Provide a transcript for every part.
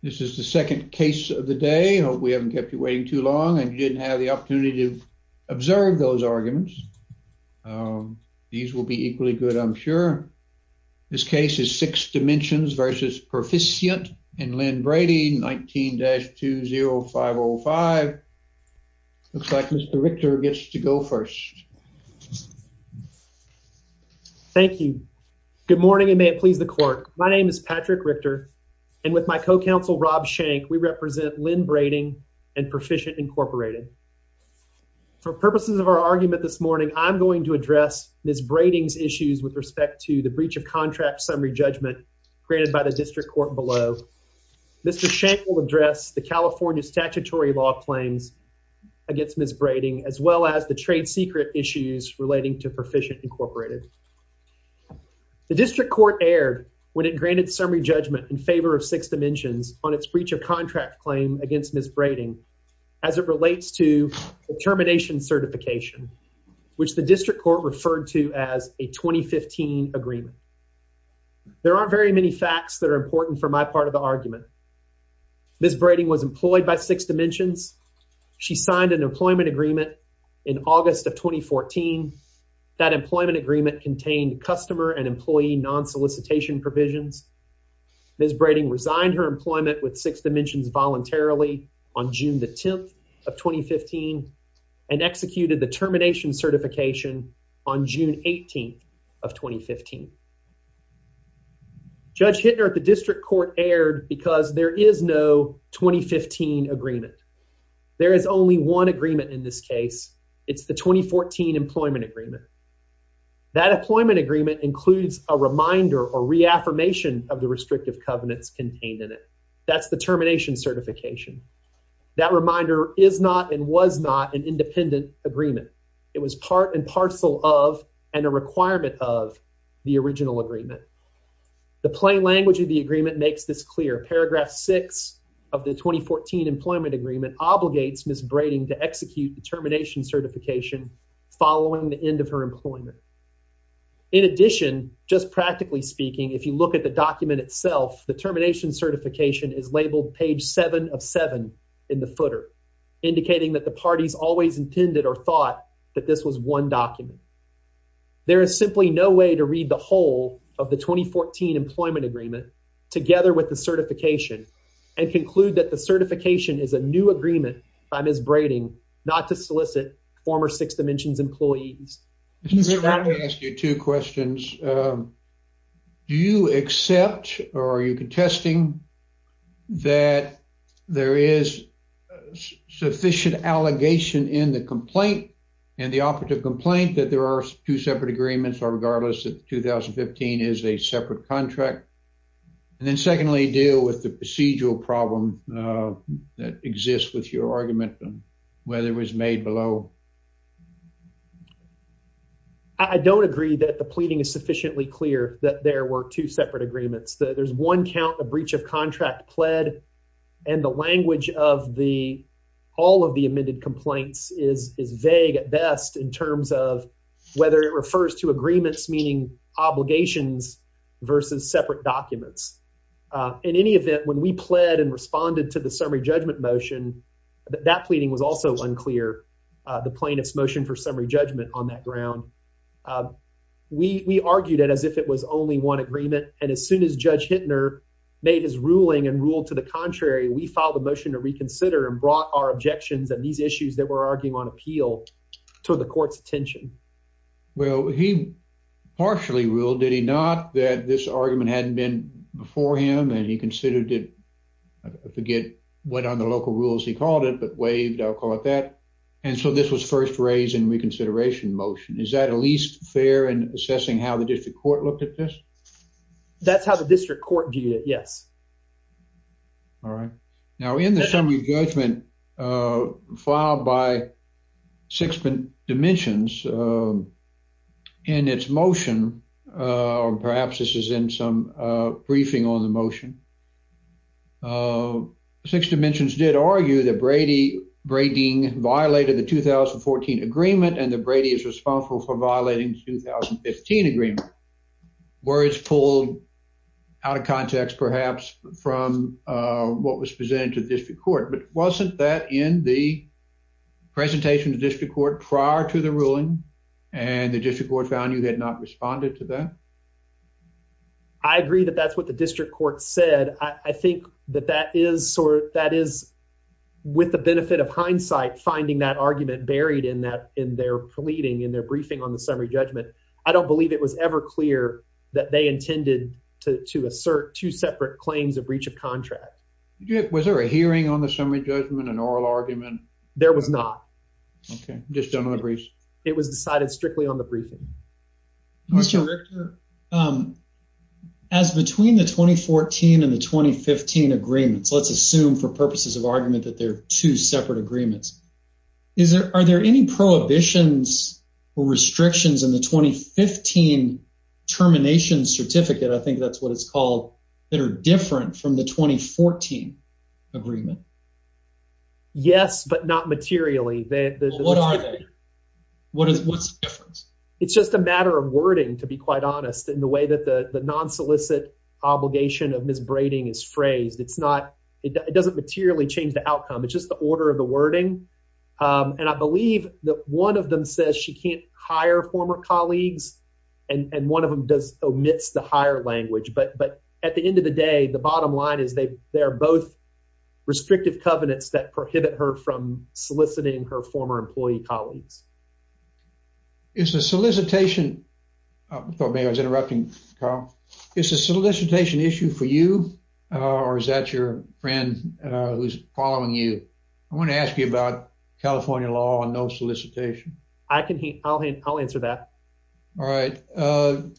This is the second case of the day. I hope we haven't kept you waiting too long and you didn't have the opportunity to observe those arguments. These will be equally good, I'm sure. This case is Six Dimensions v. Perficient and Lynn Brady, 19-20505. Looks like Mr. Richter gets to go first. Thank you. Good morning and may it please the court. My name is Patrick Richter and with my co-counsel Rob Shank, we represent Lynn Brady and Perficient, Incorporated. For purposes of our argument this morning, I'm going to address Ms. Brady's issues with respect to the breach of contract summary judgment granted by the district court below. Mr. Shank will address the California statutory law claims against Ms. Brady as well as the trade secret issues relating to Perficient, Incorporated. The district court erred when it granted summary judgment in favor of Six Dimensions on its breach of contract claim against Ms. Brady as it relates to termination certification, which the district court referred to as a 2015 agreement. There aren't very many facts that are important for my part of the argument. Ms. Brady was employed by Six Dimensions. She signed an employment agreement in August of 2014. That employment agreement contained customer and employee non-solicitation provisions Ms. Brady resigned her employment with Six Dimensions voluntarily on June the 10th of 2015 and executed the termination certification on June 18th of 2015. Judge Hittner at the district court erred because there is no 2015 agreement. There is only one agreement in this case. It's the 2014 employment agreement. That employment agreement includes a covenants contained in it. That's the termination certification. That reminder is not and was not an independent agreement. It was part and parcel of and a requirement of the original agreement. The plain language of the agreement makes this clear. Paragraph 6 of the 2014 employment agreement obligates Ms. Brady to execute the termination certification following the end of employment. In addition, just practically speaking, if you look at the document itself, the termination certification is labeled page 7 of 7 in the footer indicating that the parties always intended or thought that this was one document. There is simply no way to read the whole of the 2014 employment agreement together with the certification and conclude that the certification is a new agreement by Ms. Brady not to solicit former Six Dimensions employees. Mr. Bradley, I'm going to ask you two questions. Do you accept or are you contesting that there is sufficient allegation in the complaint and the operative complaint that there are two separate agreements or regardless that 2015 is a separate contract? Secondly, deal with the procedural problem that exists with your argument on whether it was made alone. I don't agree that the pleading is sufficiently clear that there were two separate agreements. There's one count of breach of contract pled and the language of the all of the amended complaints is vague at best in terms of whether it refers to agreements meaning obligations versus separate documents. In any event, when we pled and responded to the summary judgment motion, that pleading was also unclear. The plaintiff's motion for summary judgment on that ground. We argued it as if it was only one agreement, and as soon as Judge Hintner made his ruling and ruled to the contrary, we filed a motion to reconsider and brought our objections and these issues that were arguing on appeal to the court's attention. Well, he partially ruled, did he not, that this argument hadn't been before him and he considered it. I forget what on the local rules he called it, but waived. I'll call it that. And so this was first raised in reconsideration motion. Is that at least fair in assessing how the district court looked at this? That's how the district court viewed it, yes. All right. Now, in the summary judgment filed by Sixth Dimensions in its motion, or perhaps this is in some briefing on the motion, Sixth Dimensions did argue that Brady violated the 2014 agreement and that Brady is responsible for violating the 2015 agreement. Words pulled out of context perhaps from what was presented to the district court. But wasn't that in the presentation to district court prior to the ruling and the district court found you had not responded to that? I agree that that's what the district court said. I think that that is sort of, that is with the benefit of hindsight, finding that argument buried in that, in their pleading, in their briefing on the summary judgment. I don't believe it was ever clear that they intended to assert two separate claims of breach of contract. Was there a hearing on the argument? There was not. Okay. It was decided strictly on the briefing. As between the 2014 and the 2015 agreements, let's assume for purposes of argument that they're two separate agreements, are there any prohibitions or restrictions in the 2015 termination certificate, I think that's what it's called, that are different from the 2014 agreement? Yes, but not materially. What's the difference? It's just a matter of wording, to be quite honest, in the way that the non-solicit obligation of Ms. Brady is phrased. It doesn't materially change the outcome. It's just the order of the wording. And I believe that one of them says she can't hire former colleagues, and one of them omits the hire language. But at the end of the day, the bottom line is they are both restrictive covenants that prohibit her from soliciting her former employee colleagues. Is the solicitation issue for you, or is that your friend who's following you? I want to ask you about California law and no solicitation. I'll answer that. All right.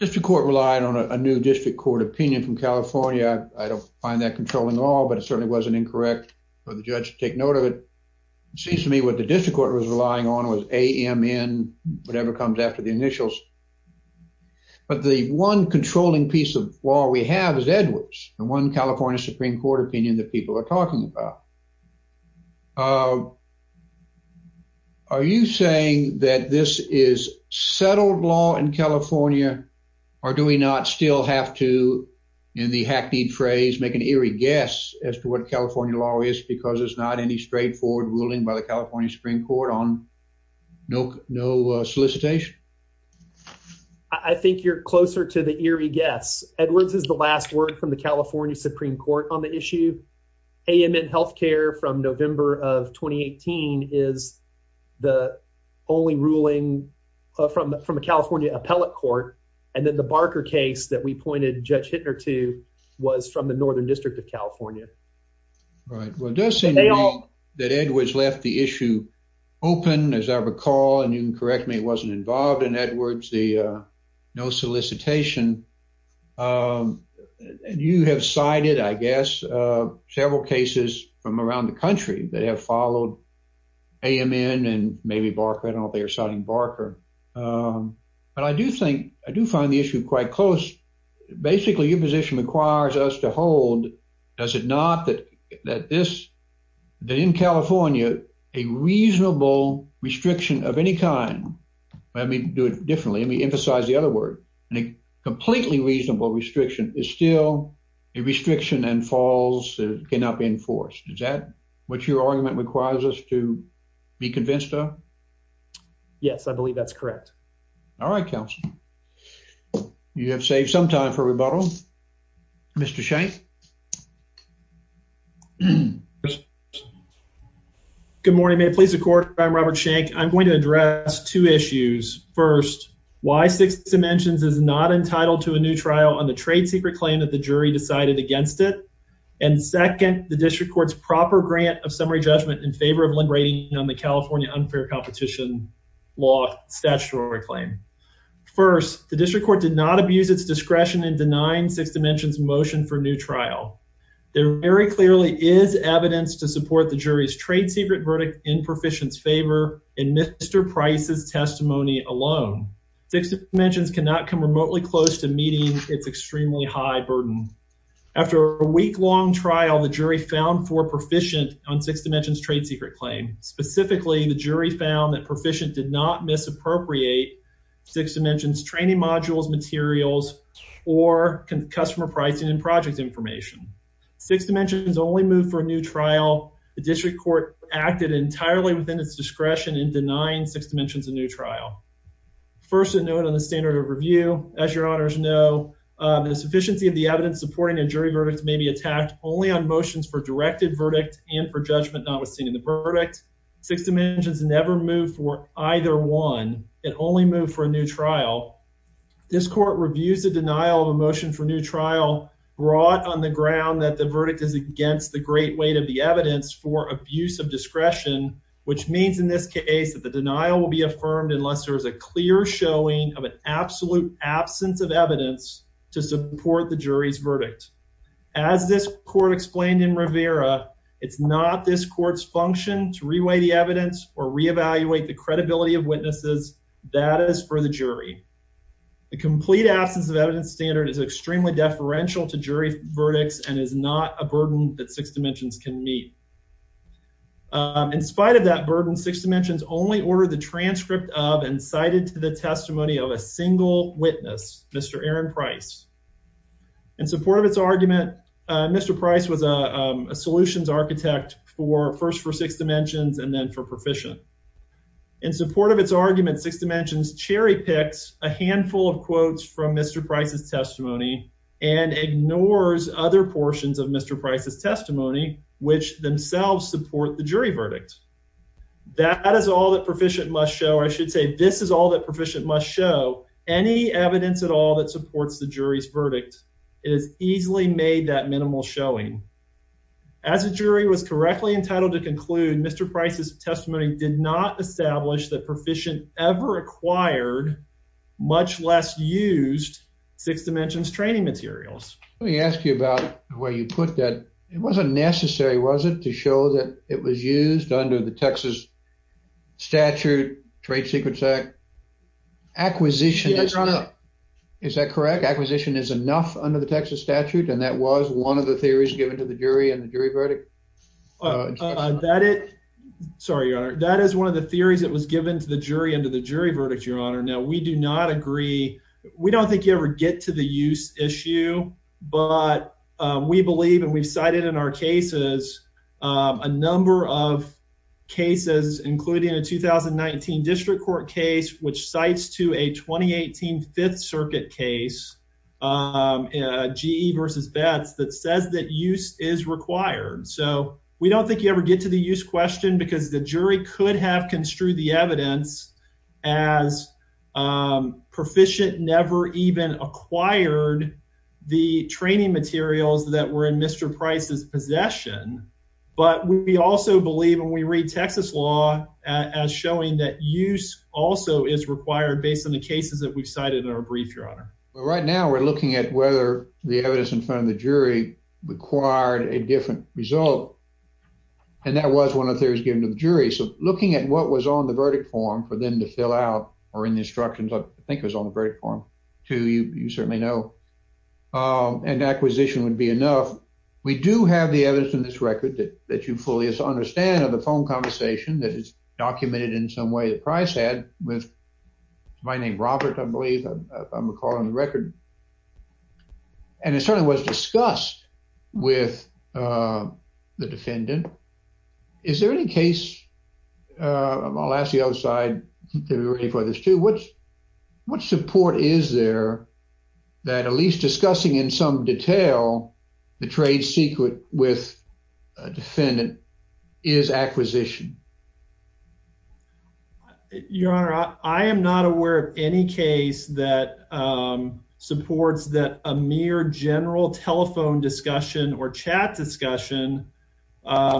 District court relied on a new district court opinion from California. I don't find that controlling law, but it certainly wasn't incorrect for the judge to take note of it. It seems to me what the district court was relying on was AMN, whatever comes after the initials. But the one controlling piece of law we have is Edwards, the one California Supreme Court opinion that people are talking about. Are you saying that this is settled law in California, or do we not still have to, in the hackneyed phrase, make an eerie guess as to what California law is because there's not any straightforward ruling by the California Supreme Court on no solicitation? I think you're closer to the eerie guess. Edwards is the last word from the California Supreme Court on the issue. AMN Healthcare from November of 2018 is the only ruling from a California appellate court. And then the Barker case that we pointed Judge Hittner to was from the Northern District of California. Right. Well, it does seem to me that Edwards left the issue open, as I recall, and you can correct me it wasn't involved in Edwards, the no solicitation. You have cited, I guess, several cases from around the country that have followed AMN and maybe Barker, I don't know if they are citing Barker. But I do think, I do find the issue quite close. Basically, your position requires us to hold, does it not, that this, that in California, a reasonable restriction of any kind, let me do it differently, let me emphasize the other word, a completely reasonable restriction is still a restriction and falls that cannot be enforced. Is that what your argument requires us to be convinced of? Yes, I believe that's correct. All right, counsel, you have saved some time for rebuttal. Mr. Shank. Good morning. May it please the court, I'm Robert Shank. I'm going to address two issues. First, why Six Dimensions is not entitled to a new trial on the trade secret claim that the jury decided against it. And second, the district court's proper grant of summary judgment in favor of liberating on the California unfair competition law statutory claim. First, the district court did not abuse its discretion in denying Six Dimensions motion for new trial. There very clearly is evidence to support the jury's trade secret verdict in Perficient's favor in Mr. Price's testimony alone. Six Dimensions cannot come remotely close to meeting its extremely high burden. After a week-long trial, the jury found for Perficient on Six Dimensions trade secret claim. Specifically, the jury found that Perficient did not misappropriate Six Dimensions training modules, materials, or customer pricing and project information. Six Dimensions only moved for a new trial. The district court acted entirely within its discretion in denying Six Dimensions a new trial. First, a note on the standard of review. As your honors know, the sufficiency of the evidence supporting a jury verdict may be attacked only on motions for directed verdict and for judgment not withstanding the verdict. Six Dimensions never moved for either one. It only moved for a new trial. This court reviews the on the ground that the verdict is against the great weight of the evidence for abuse of discretion, which means in this case that the denial will be affirmed unless there is a clear showing of an absolute absence of evidence to support the jury's verdict. As this court explained in Rivera, it's not this court's function to reweigh the evidence or reevaluate the credibility of witnesses. That is for the jury. The complete absence of evidence standard is extremely deferential to verdicts and is not a burden that Six Dimensions can meet. In spite of that burden, Six Dimensions only ordered the transcript of and cited to the testimony of a single witness, Mr. Aaron Price. In support of its argument, Mr. Price was a solutions architect first for Six Dimensions and then for Perficient. In support of its argument, Six Dimensions cherry-picked a handful of quotes from Mr. Price's testimony and ignores other portions of Mr. Price's testimony, which themselves support the jury verdict. That is all that Perficient must show. I should say this is all that Perficient must show. Any evidence at all that supports the jury's verdict is easily made that minimal showing. As a jury was correctly entitled to conclude, Mr. Price's required, much less used, Six Dimensions training materials. Let me ask you about where you put that. It wasn't necessary, was it, to show that it was used under the Texas statute, Trade Secrets Act? Acquisition... Yes, Your Honor. Is that correct? Acquisition is enough under the Texas statute and that was one of the theories given to the jury in the jury verdict, Your Honor. Now, we do not agree. We don't think you ever get to the use issue, but we believe and we've cited in our cases a number of cases, including a 2019 district court case, which cites to a 2018 Fifth Circuit case, GE versus Betz, that says that use is required. So, we don't think you ever get to the use question because the jury could have construed the evidence as proficient, never even acquired the training materials that were in Mr. Price's possession, but we also believe when we read Texas law as showing that use also is required based on the cases that we've cited in our brief, Your Honor. Right now, we're looking at whether the evidence in front of the jury required a different result and that was one of the theories given to the jury. We do have the evidence in this record that you fully understand of the phone conversation that is documented in some way that Price had with my name, Robert, I believe, if I'm recalling the record. And it certainly was discussed with the defendant. Is there any case... I think we're ready for this too. What support is there that at least discussing in some detail the trade secret with a defendant is acquisition? Your Honor, I am not aware of any case that supports that a mere general telephone discussion or chat discussion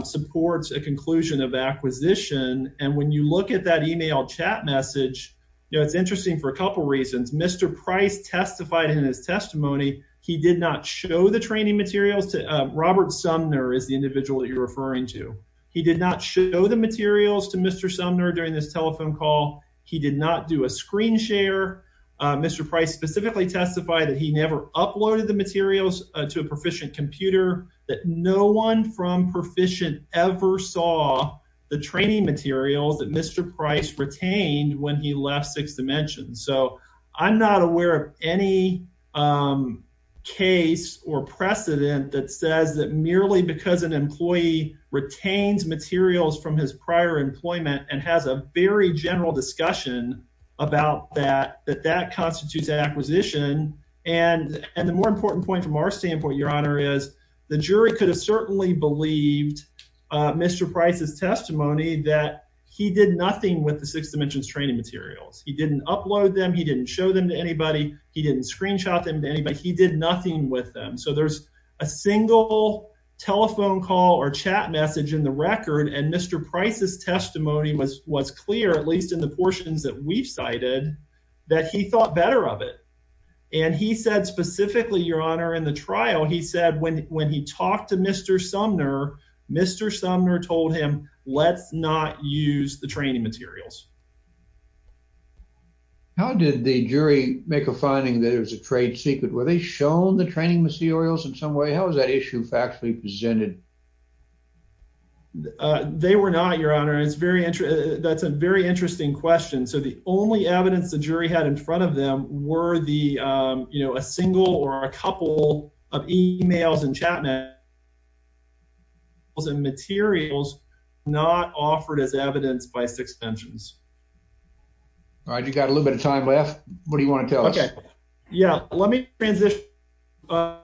supports a conclusion of acquisition. And when you look at that email chat message, it's interesting for a couple reasons. Mr. Price testified in his testimony, he did not show the training materials to Robert Sumner is the individual that you're referring to. He did not show the materials to Mr. Sumner during this telephone call. He did not do a screen share. Mr. Price specifically testified that he never uploaded the materials to a proficient computer, that no one from proficient ever saw the training materials that Mr. Price retained when he left Sixth Dimension. So I'm not aware of any case or precedent that says that merely because an employee retains materials from his prior employment and has a very general discussion about that, that that constitutes acquisition. And the more important point from our standpoint, Your Honor, is the jury could have certainly believed Mr. Price's testimony that he did nothing with the Sixth Dimension's training materials. He didn't upload them. He didn't show them to anybody. He didn't screenshot them to anybody. He did nothing with them. So there's a single telephone call or chat message in the record. And Mr. Price's testimony was clear, at least in the portions that we've cited, that he thought better of it. And he said specifically, Your Honor, in the trial, he said when he talked to Mr. Sumner, Mr. Sumner told him let's not use the training materials. How did the jury make a finding that it was a trade secret? Were they shown the training materials in some way? How was that issue factually presented? They were not, Your Honor. It's very interesting. That's a very interesting question. So the only evidence the jury had in front of them were the, you know, a single or a couple of emails and chat messages and materials not offered as evidence by Sixth Dimension's. All right. You got a little bit of time left. What do you want to tell us? Yeah, let me transition to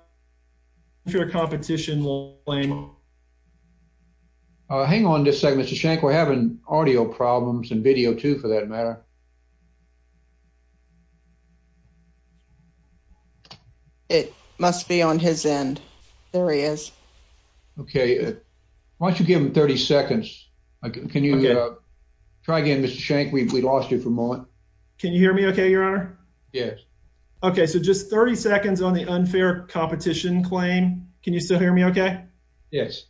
a competition. Hang on just a second, Mr. Shank. We're having audio problems and video too, for that matter. It must be on his end. There he is. Okay. Why don't you give him 30 seconds? Can you try again, Mr. Shank? We lost you for a moment. Can you hear me okay, Your Honor? Yes. Okay. So just 30 seconds on the unfair competition claim. Can you still hear me okay? Yes.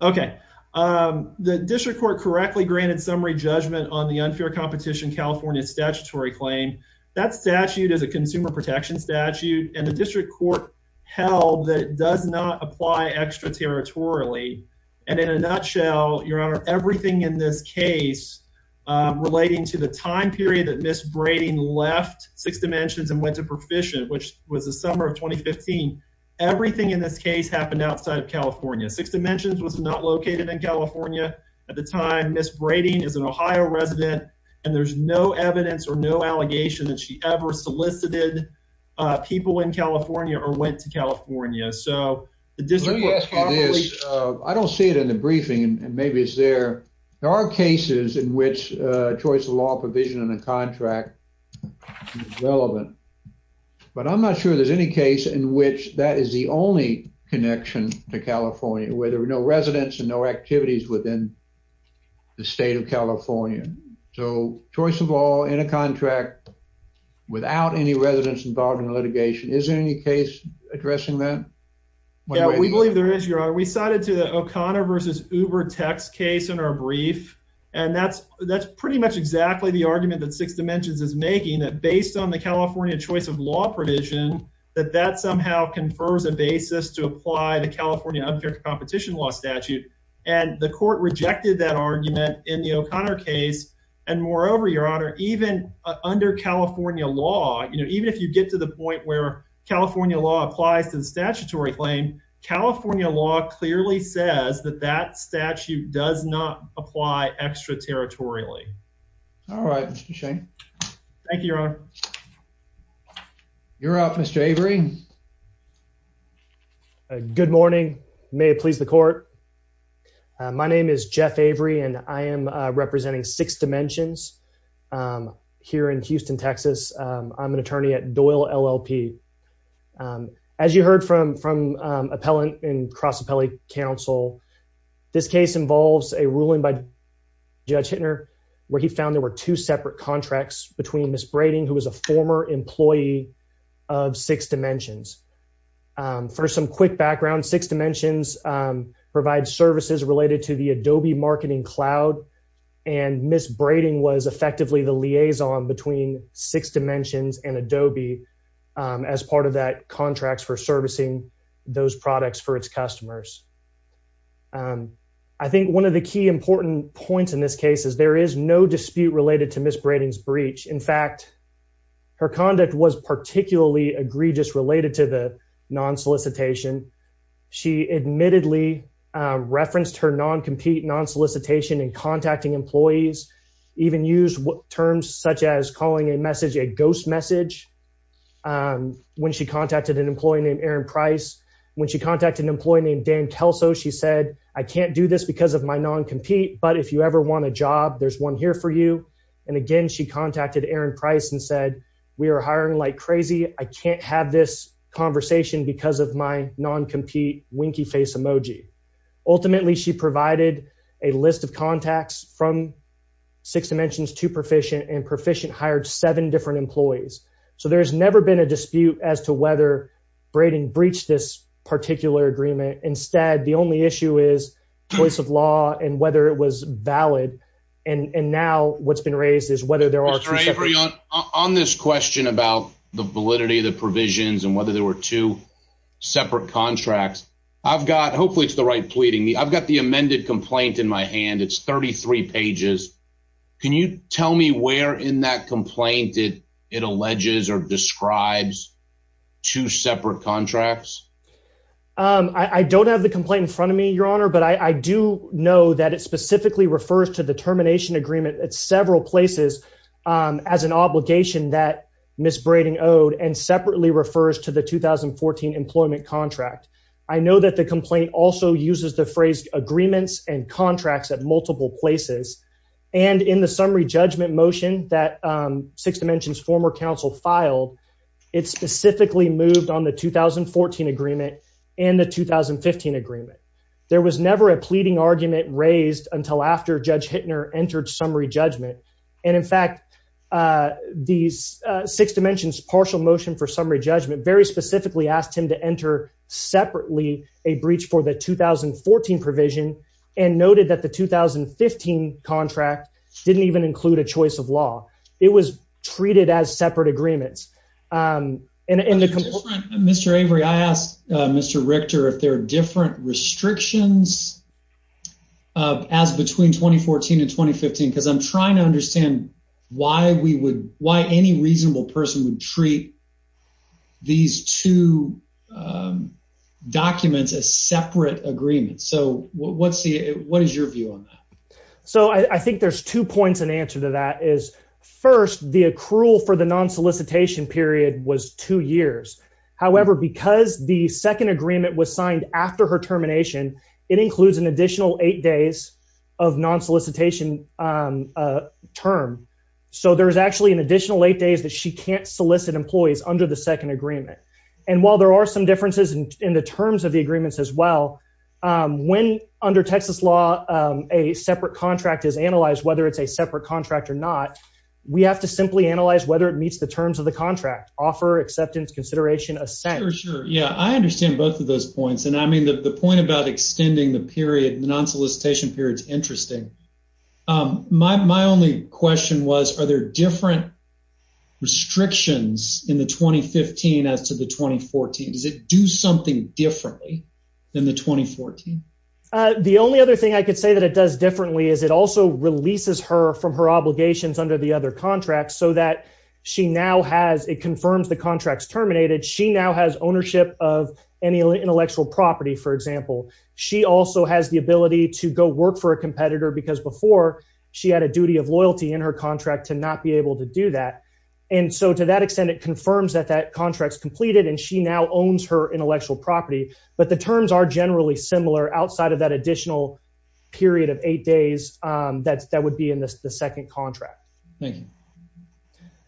Okay. The district court correctly granted summary judgment on the unfair competition California statutory claim. That statute is a consumer protection statute, and the district court held that it does not apply extraterritorially. And in a nutshell, Your Honor, everything in this case relating to the time period that Ms. Braden left Sixth Dimension and went to Perficient, which was the summer of 2015, everything in this case happened outside of California. Sixth Dimension was not located in California at the time. Ms. Braden is an Ohio resident, and there's no evidence or no allegation that she ever solicited people in California or went to California. So the district court probably— Let me ask you this. I don't see it in the cases in which choice of law provision in a contract is relevant, but I'm not sure there's any case in which that is the only connection to California, where there were no residents and no activities within the state of California. So choice of law in a contract without any residents involved in litigation, is there any case addressing that? Yeah, we believe there is, O'Connor v. Ubertech's case in our brief, and that's pretty much exactly the argument that Sixth Dimension is making, that based on the California choice of law provision, that that somehow confers a basis to apply the California unfair competition law statute. And the court rejected that argument in the O'Connor case. And moreover, Your Honor, even under California law, even if you get to the point where California law applies to the statutory claim, California law clearly says that that statute does not apply extraterritorially. All right, Mr. Shane. Thank you, Your Honor. You're up, Mr. Avery. Good morning. May it please the court. My name is Jeff Avery, and I am representing Sixth Dimensions here in Houston, Texas. I'm an attorney at Doyle LLP. As you heard from appellant and cross appellate counsel, this case involves a ruling by Judge Hintner, where he found there were two separate contracts between Ms. Brading, who was a former employee of Sixth Dimensions. For some quick background, Sixth Dimensions provides services related to the Adobe Marketing Cloud, and Ms. Brading was effectively the liaison between Sixth Dimensions and Adobe as part of that contract for servicing those products for its customers. I think one of the key important points in this case is there is no dispute related to Ms. Brading's breach. In fact, her conduct was particularly egregious related to the non-solicitation and contacting employees, even used terms such as calling a message a ghost message when she contacted an employee named Aaron Price. When she contacted an employee named Dan Kelso, she said, I can't do this because of my non-compete, but if you ever want a job, there's one here for you. And again, she contacted Aaron Price and said, we are hiring like crazy. I can't have this conversation because of my non-compete winky face emoji. Ultimately, she provided a list of contacts from Sixth Dimensions to Perficient, and Perficient hired seven different employees. So there's never been a dispute as to whether Brading breached this particular agreement. Instead, the only issue is choice of law and whether it was valid. And now, what's been raised is whether there are two separate... Mr. Avery, on this question about the validity of the provisions and whether there were two separate contracts, I've got, hopefully it's the right pleading. I've got the amended complaint in my hand. It's 33 pages. Can you tell me where in that complaint it alleges or describes two separate contracts? I don't have the complaint in front of me, Your Honor, but I do know that it specifically refers to the termination agreement at several places as an I know that the complaint also uses the phrase agreements and contracts at multiple places. And in the summary judgment motion that Sixth Dimensions former counsel filed, it specifically moved on the 2014 agreement and the 2015 agreement. There was never a pleading argument raised until after Judge Hittner entered summary judgment. And in fact, the Sixth Dimensions partial motion for summary judgment very specifically asked him to enter separately a breach for the 2014 provision and noted that the 2015 contract didn't even include a choice of law. It was treated as separate agreements. Mr. Avery, I asked Mr. Richter if there are different restrictions as between 2014 and 2015, because I'm trying to understand why any reasonable person would treat these two documents as separate agreements. So, what is your view on that? So, I think there's two points in answer to that. First, the accrual for the non-solicitation period was two years. However, because the second agreement was signed after her termination, it includes an additional eight days of non-solicitation term. So, there's actually additional eight days that she can't solicit employees under the second agreement. And while there are some differences in the terms of the agreements as well, when under Texas law, a separate contract is analyzed, whether it's a separate contract or not, we have to simply analyze whether it meets the terms of the contract. Offer, acceptance, consideration, assent. For sure. Yeah, I understand both of those points. And I mean, the point about extending the non-solicitation period is interesting. My only question was, are there different restrictions in the 2015 as to the 2014? Does it do something differently than the 2014? The only other thing I could say that it does differently is it also releases her from her obligations under the other contracts so that she now has, it confirms the contract's terminated. She now has ownership of any intellectual property, for example. She also has the ability to go work for a competitor because before she had a duty of loyalty in her contract to not be able to do that. And so, to that extent, it confirms that that contract's completed and she now owns her intellectual property. But the terms are generally similar outside of that additional period of eight days that would be in the second contract. Thank you.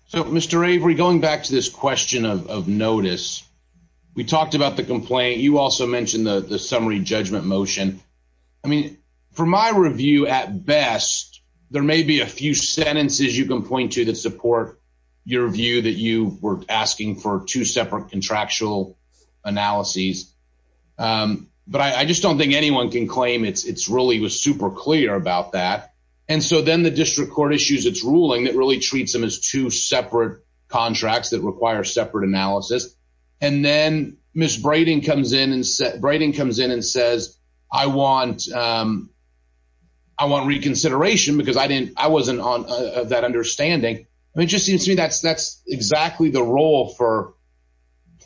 So, Mr. Avery, going back to this question of notice, we talked about the complaint. You also mentioned the summary judgment motion. I mean, for my review at best, there may be a few sentences you can point to that support your view that you were asking for two separate contractual analyses. But I just don't think anyone can claim it's really was super clear about that. And so then the district court issues its ruling that really treats them as two separate contracts that require separate analysis. And then Ms. Brayden comes in and says, I want reconsideration because I didn't, I wasn't on that understanding. I mean, it just seems to me that's exactly the role for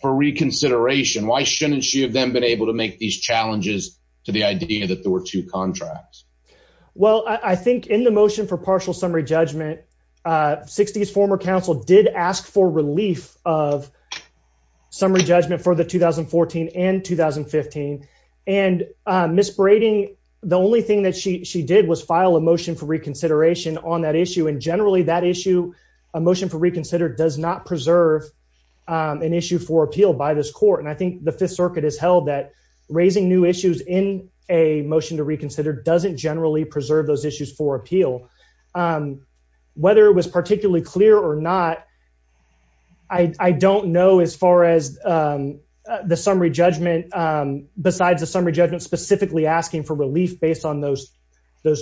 reconsideration. Why shouldn't she have then been able to make these challenges to the idea that there were two contracts? Well, I think in the motion for partial summary judgment, 60s, former counsel did ask for relief of summary judgment for the 2014 and 2015. And Ms. Brayden, the only thing that she did was file a motion for reconsideration on that issue. And generally that issue, a motion for reconsider does not preserve an issue for appeal by this court. And I think the fifth circuit has held that a motion to reconsider doesn't generally preserve those issues for appeal. Whether it was particularly clear or not, I don't know as far as the summary judgment besides the summary judgment specifically asking for relief based on those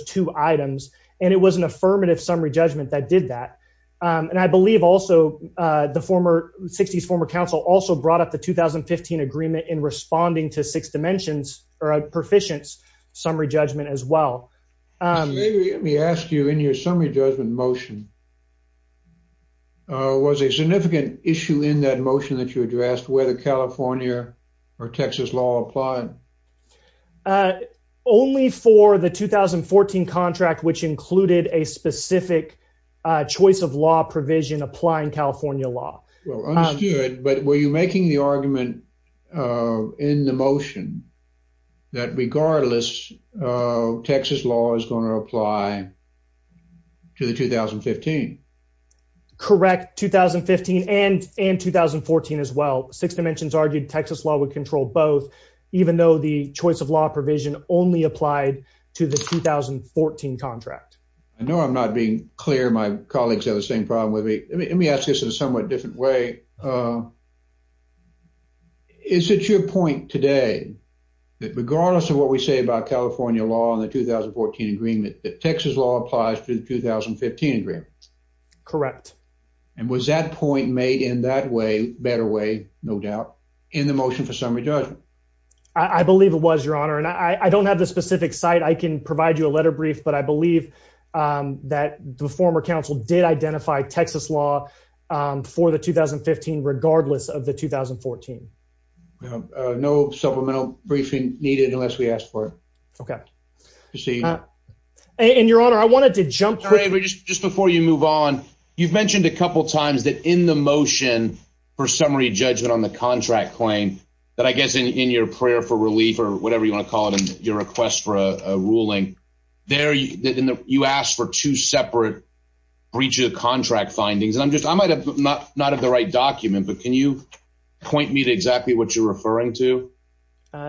two items. And it was an affirmative summary judgment that did that. And I believe also the former 60s former counsel also brought up the 2015 agreement in responding to six dimensions or a proficient summary judgment as well. Let me ask you in your summary judgment motion, was a significant issue in that motion that you addressed where the California or Texas law applied? Only for the 2014 contract, which included a specific choice of law provision applying California law. Well understood, but were you making the argument in the motion that regardless, Texas law is going to apply to the 2015? Correct. 2015 and 2014 as well. Six dimensions argued Texas law would control both even though the choice of law provision only applied to the 2014 contract. I know I'm not being clear. My colleagues have the same problem with me. Let me ask this in a somewhat different way. Is it your point today that regardless of what we say about California law in the 2014 agreement that Texas law applies to the 2015 agreement? Correct. And was that point made in that way better way? No doubt in the motion for summary judgment. I believe it was, Your Honor, and I don't have the specific site. I can provide you a letter brief, but I believe that the former counsel did identify Texas law for the 2015 regardless of the 2014. No supplemental briefing needed unless we asked for it. Okay. And Your Honor, I wanted to jump. Just before you move on, you've mentioned a couple times that in the motion for summary judgment on the contract claim that I guess in your prayer for relief or whatever you want to call it and your request for a ruling there, you asked for two separate breach of the contract findings. And I'm just, I might have not had the right document, but can you point me to exactly what you're referring to?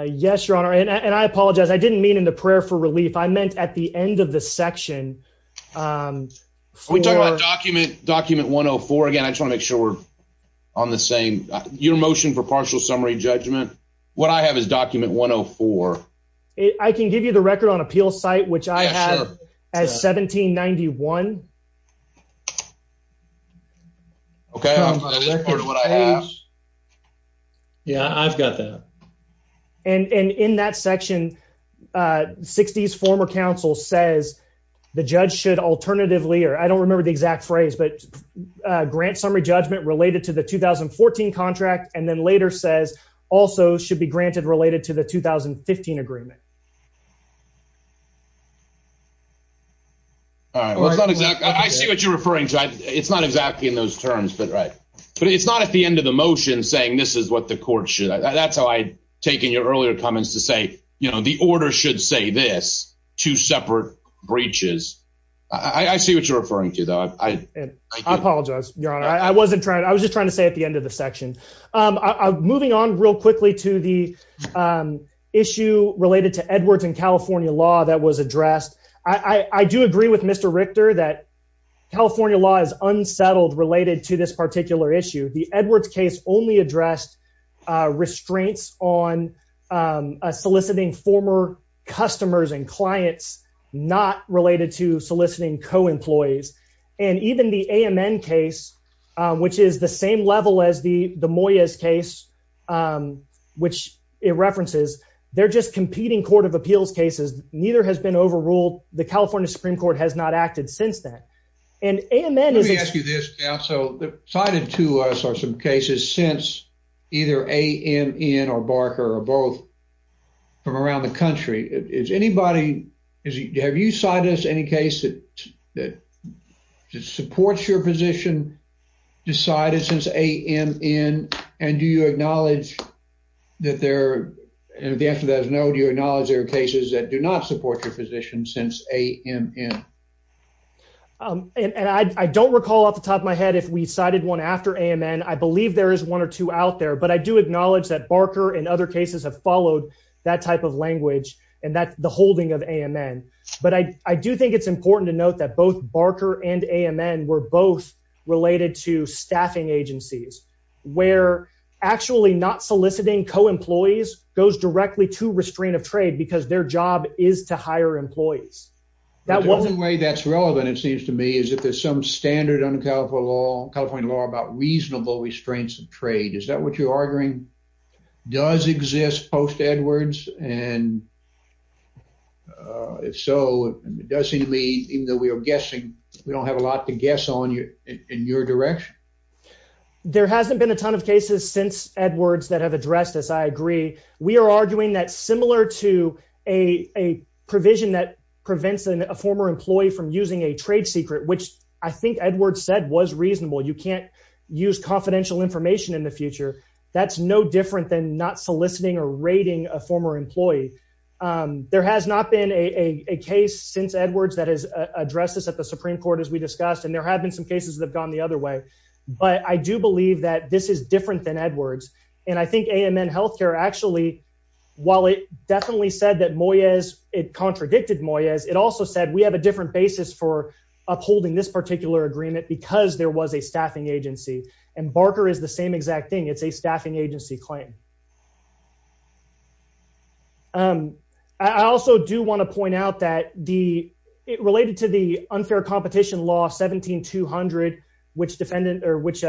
Yes, Your Honor. And I apologize. I didn't mean in the prayer for relief. I meant at the end of the section. Are we talking about document 104? Again, I just wanna make sure we're on the same. Your motion for partial summary judgment, what I have is document 104. I can give you the record on appeal site, which I have as 1791. Okay. Yeah, I've got that. And in that section, 60s former counsel says the judge should alternatively, or I don't remember the exact phrase, but should be granted related to the 2015 agreement. All right. I see what you're referring to. It's not exactly in those terms, but it's not at the end of the motion saying this is what the court should. That's how I take in your earlier comments to say, the order should say this, two separate breaches. I see what you're referring to though. I apologize, Your Honor. I was just trying to say at the end of the section. Moving on real quickly to the issue related to Edwards and California law that was addressed. I do agree with Mr. Richter that California law is unsettled related to this particular issue. The Edwards case only addressed restraints on soliciting former customers and clients, not related to soliciting co-employees. And even the AMN case, which is the same level as the Moyes case, which it references, they're just competing court of appeals cases. Neither has been overruled. The California Supreme Court has not acted since that. And AMN is- Let me ask you this now. So cited to us are some cases since either AMN or Barker or both from around the country. Have you cited us any case that supports your position decided since AMN? And do you acknowledge that there, and if the answer to that is no, do you acknowledge there are cases that do not support your position since AMN? And I don't recall off the top of my head if we cited one after AMN. I believe there is one or two out there, but I do acknowledge that Barker and other cases have followed that type of language and the holding of AMN. But I do think it's important to note that both Barker and AMN were both related to staffing agencies, where actually not soliciting co-employees goes directly to restraint of trade because their job is to hire employees. The only way that's relevant, it seems to me, is if there's some standard under California law about reasonable restraints of trade. Is that what you're arguing? Does exist post Edwards? And if so, it does seem to me, even though we are guessing, we don't have a lot to guess on you in your direction. There hasn't been a ton of cases since Edwards that have addressed this, I agree. We are arguing that similar to a provision that prevents a former employee from using a trade secret, which I think Edwards said was reasonable. You can't use confidential information in the future. That's no different than not soliciting or employee. There has not been a case since Edwards that has addressed this at the Supreme Court, as we discussed, and there have been some cases that have gone the other way. But I do believe that this is different than Edwards. And I think AMN Healthcare actually, while it definitely said that Moyes, it contradicted Moyes, it also said we have a different basis for upholding this particular agreement because there was a staffing agency. And Barker is the same exact thing. It's a staffing agency claim. Um, I also do want to point out that the related to the unfair competition law 17 200, which defendant or which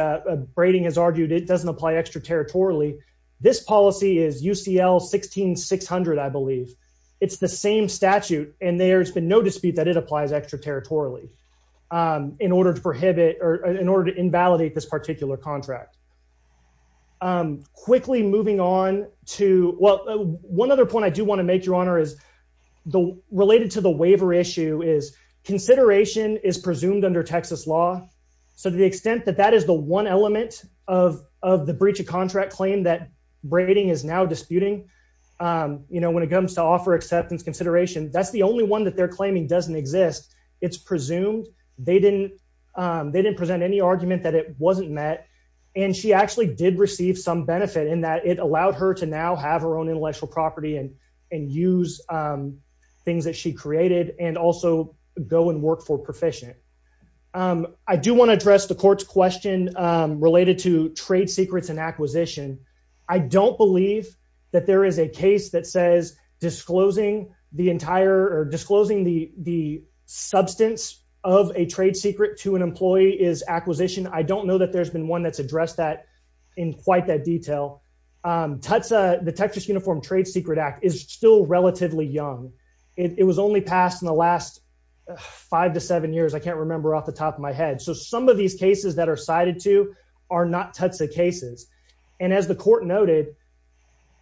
braiding has argued it doesn't apply extraterritorially. This policy is UCL 16 600. I believe it's the same statute, and there's been no dispute that it applies extraterritorially in order to prohibit or in order to invalidate this particular contract. Um, quickly moving on to well, one other point I do want to make your honor is the related to the waiver issue is consideration is presumed under Texas law. So to the extent that that is the one element of of the breach of contract claim that braiding is now disputing, you know, when it comes to offer acceptance consideration, that's the only one that they're claiming doesn't exist. It's presumed they didn't. They didn't present any argument that it wasn't met, and she actually did receive some benefit in that it allowed her to now have her own intellectual property and and use, um, things that she created and also go and work for proficient. Um, I do want to address the court's question related to trade secrets and acquisition. I don't believe that there is a case that says disclosing the entire or disclosing the I don't know that there's been one that's addressed that in quite that detail. Um, Tutsi, the Texas Uniform Trade Secret Act is still relatively young. It was only passed in the last 5 to 7 years. I can't remember off the top of my head. So some of these cases that are cited to are not Tutsi cases. And as the court noted,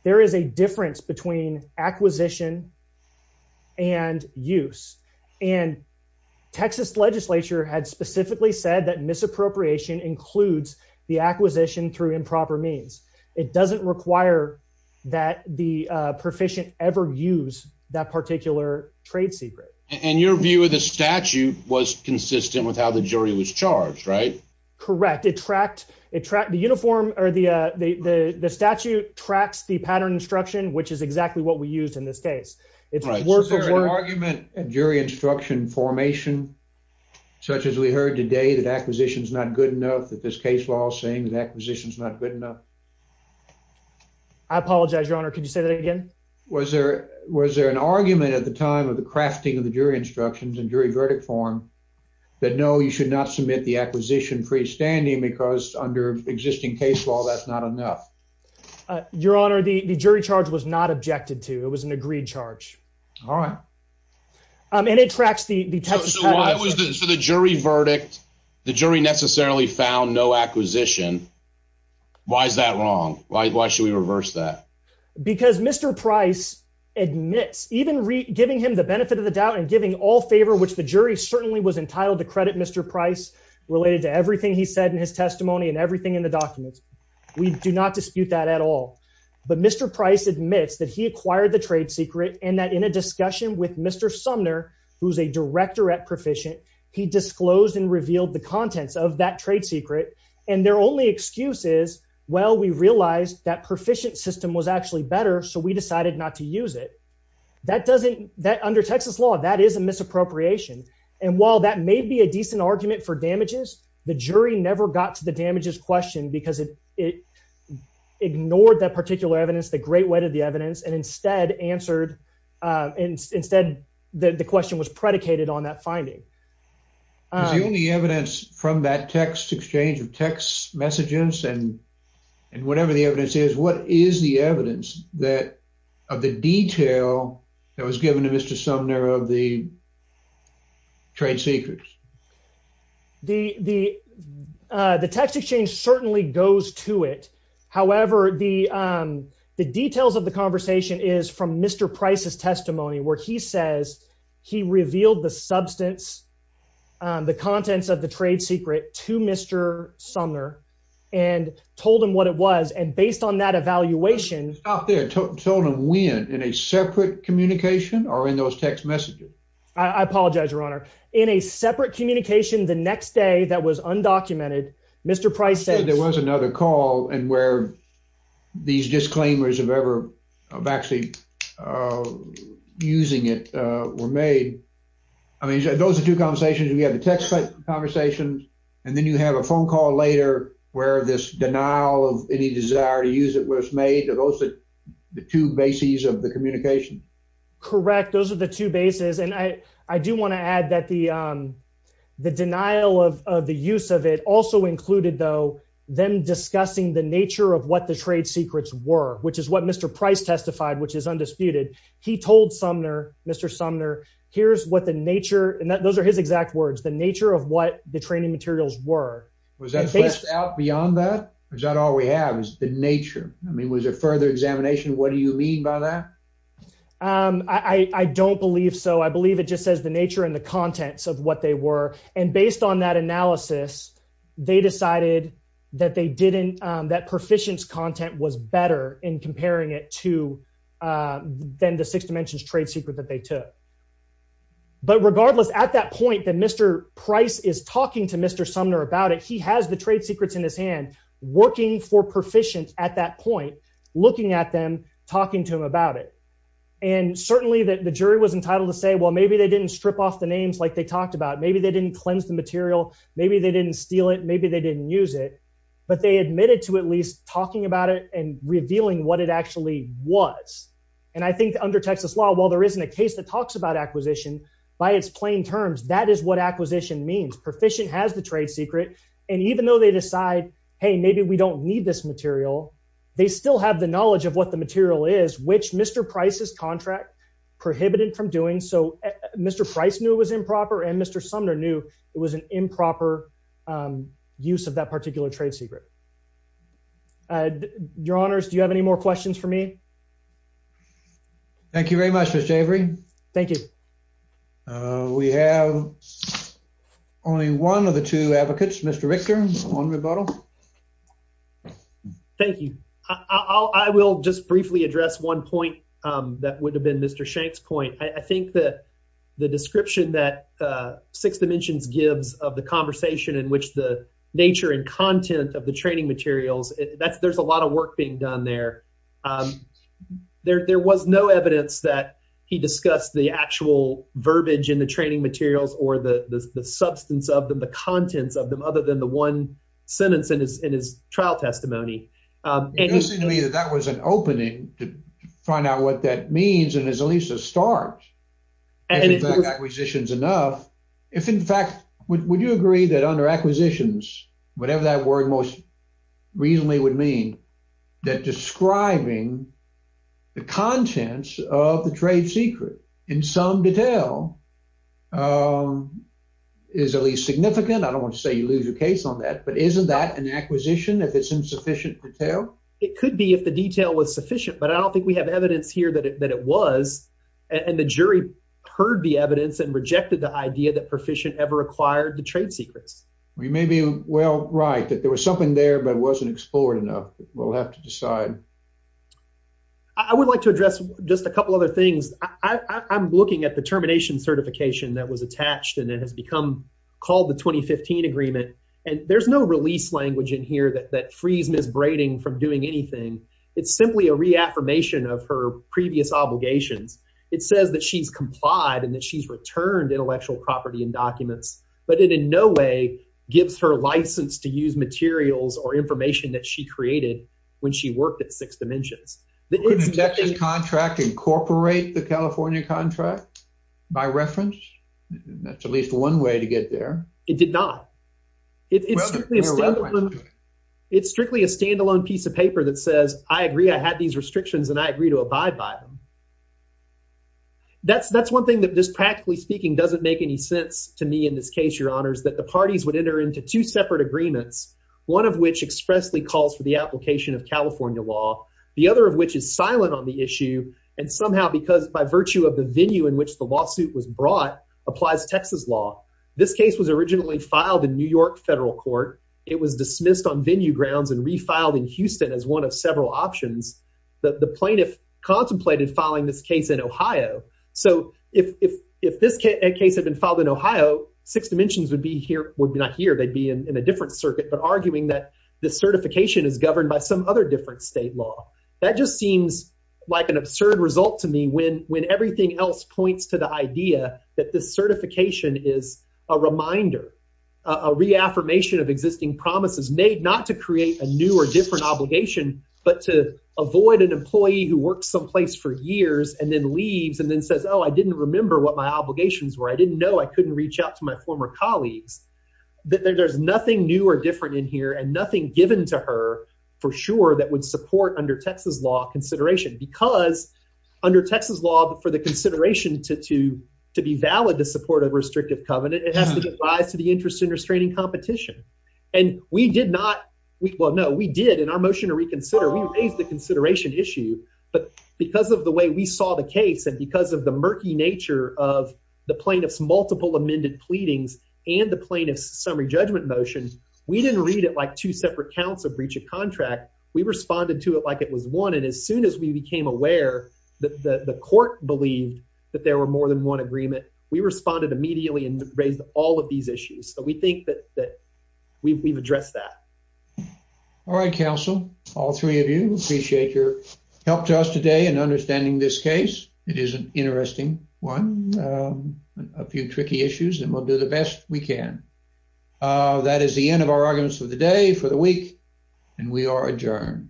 there is a difference between acquisition and use. And Texas legislature had specifically said that misappropriation includes the acquisition through improper means. It doesn't require that the proficient ever use that particular trade secret. And your view of the statute was consistent with how the jury was charged, right? Correct. It tracked it tracked the uniform or the the statute tracks the pattern instruction, which is exactly what we used in this case. It's worth argument jury instruction formation, such as we heard today that acquisitions not good enough that this case law saying that acquisitions not good enough. I apologize, Your Honor. Could you say that again? Was there? Was there an argument at the time of the crafting of the jury instructions and jury verdict form that no, you should not submit the acquisition freestanding because under existing case law, that's not enough. Your Honor, the jury charge was not objected to. It was an agreed charge. All right. And it tracks the text. So the jury verdict, the jury necessarily found no acquisition. Why is that wrong? Why should we reverse that? Because Mr Price admits even giving him the benefit of the doubt and giving all favor, which the jury certainly was entitled to credit Mr Price related to everything he said in his documents. We do not dispute that at all. But Mr Price admits that he acquired the trade secret and that in a discussion with Mr Sumner, who's a director at Proficient, he disclosed and revealed the contents of that trade secret. And their only excuse is, well, we realized that Proficient system was actually better. So we decided not to use it. That doesn't that under Texas law, that is a misappropriation. And while that may be a decent argument for damages, the jury never got to the damages question because it ignored that particular evidence, the great weight of the evidence, and instead answered. Instead, the question was predicated on that finding. Is the only evidence from that text exchange of text messages and whatever the evidence is, what is the evidence that of the detail that was given to Mr Sumner of the trade secrets? The text exchange certainly goes to it. However, the details of the conversation is from Mr Price's testimony where he says he revealed the substance, the contents of the trade secret to Mr Sumner and told him what it was. And based on that evaluation out there, told him when, in a separate communication or in those text messages? I apologize, Your Honor. In a separate communication the next day that was undocumented, Mr Price said... There was another call and where these disclaimers of ever of actually using it were made. I mean, those are two conversations. We have the text conversations. And then you have a phone call later where this denial of any desire to use it was made. Are those the two bases of the communication? Correct. Those are the two bases. And I do want to add that the denial of the use of it also included, though, them discussing the nature of what the trade secrets were, which is what Mr Price testified, which is undisputed. He told Mr Sumner, here's what the nature... And those are his exact words, the nature of what the training materials were. Was that fleshed out beyond that? Or is that all we have is the nature? I mean, was there further examination? What do you mean by that? I don't believe so. I believe it just says the nature and the contents of what they were. And based on that analysis, they decided that they didn't... That proficiency content was better in comparing it to then the six dimensions trade secret that they took. But regardless, at that point that Mr Price is talking to Mr Sumner about it, he has the trade secrets in his hand, working for proficiency at that point, looking at them, talking to him about it. And certainly the jury was entitled to say, well, maybe they didn't strip off the names like they talked about. Maybe they didn't cleanse the material. Maybe they didn't steal it. Maybe they didn't use it. But they admitted to at least talking about it and revealing what it actually was. And I think under Texas law, while there isn't a case that talks about acquisition, by its plain terms, that is what acquisition means. Proficient has the trade secret. And even though they decide, hey, maybe we don't need this material, they still have the knowledge of what the material is, which Mr Price's contract prohibited from doing. So Mr Price knew it was improper and Mr Sumner knew it was an improper use of that particular trade secret. Your honors, do you have any more questions for me? Thank you very much, Mr Avery. Thank you. We have only one of the two advocates, Mr Richter, on rebuttal. Thank you. I will just briefly address one point that would have been Mr Shank's point. I think that the description that Six Dimensions gives of the conversation in which the nature and content of the training materials, there's a lot of work being done there. There was no evidence that he discussed the actual verbiage in the training materials or the substance of them, the contents of them, other than the one sentence in his trial testimony. It doesn't seem to me that that was an opening to find out what that means and is at least a start. And if acquisition is enough, if in fact, would you agree that under acquisitions, whatever that word most reasonably would mean, that describing the contents of the trade secret in some detail is at least significant? I don't want to say you lose your case on that, but isn't that an acquisition if it's insufficient detail? It could be if the detail was sufficient, but I don't think we have evidence here that it was. And the jury heard the evidence and rejected the idea that Perficient ever acquired the right. That there was something there, but it wasn't explored enough. We'll have to decide. I would like to address just a couple other things. I'm looking at the termination certification that was attached and it has become called the 2015 agreement. And there's no release language in here that frees Ms. Brading from doing anything. It's simply a reaffirmation of her previous obligations. It says that she's complied and she's returned intellectual property and documents, but it in no way gives her license to use materials or information that she created when she worked at Six Dimensions. Could an injection contract incorporate the California contract by reference? That's at least one way to get there. It did not. It's strictly a standalone piece of paper that says, I agree I had these restrictions and I agree to abide by them. That's one thing that just practically speaking doesn't make any sense to me in this case, Your Honors, that the parties would enter into two separate agreements, one of which expressly calls for the application of California law, the other of which is silent on the issue and somehow because by virtue of the venue in which the lawsuit was brought applies Texas law. This case was originally filed in New York federal court. It was dismissed on venue grounds and refiled in Houston as one of several options. The plaintiff contemplated filing this case in Ohio. So if this case had been filed in Ohio, Six Dimensions would be here, would be not here, they'd be in a different circuit, but arguing that the certification is governed by some other different state law. That just seems like an absurd result to me when everything else points to the idea that this certification is a reminder, a reaffirmation of existing promises made not to create a new or different obligation, but to avoid an employee who works someplace for years and then leaves and then says, oh, I didn't remember what my obligations were. I didn't know I couldn't reach out to my former colleagues. There's nothing new or different in here and nothing given to her for sure that would support under Texas law consideration because under Texas law, for the consideration to be valid to support a restrictive covenant, it has to give rise to the interest in restraining competition. And we did not, well, no, we did in our motion to reconsider, we raised the consideration issue, but because of the way we saw the case and because of the murky nature of the plaintiff's multiple amended pleadings and the plaintiff's summary judgment motion, we didn't read it like two separate counts of breach of contract. We responded to it like it was one. And as soon as we became aware that the court believed that there were more than one agreement, we responded immediately and raised all of these issues. So we think that we've addressed that. All right, counsel, all three of you, appreciate your help to us today in understanding this case. It is an interesting one, a few tricky issues, and we'll do the best we can. That is the end of our arguments of the day for the week, and we are adjourned.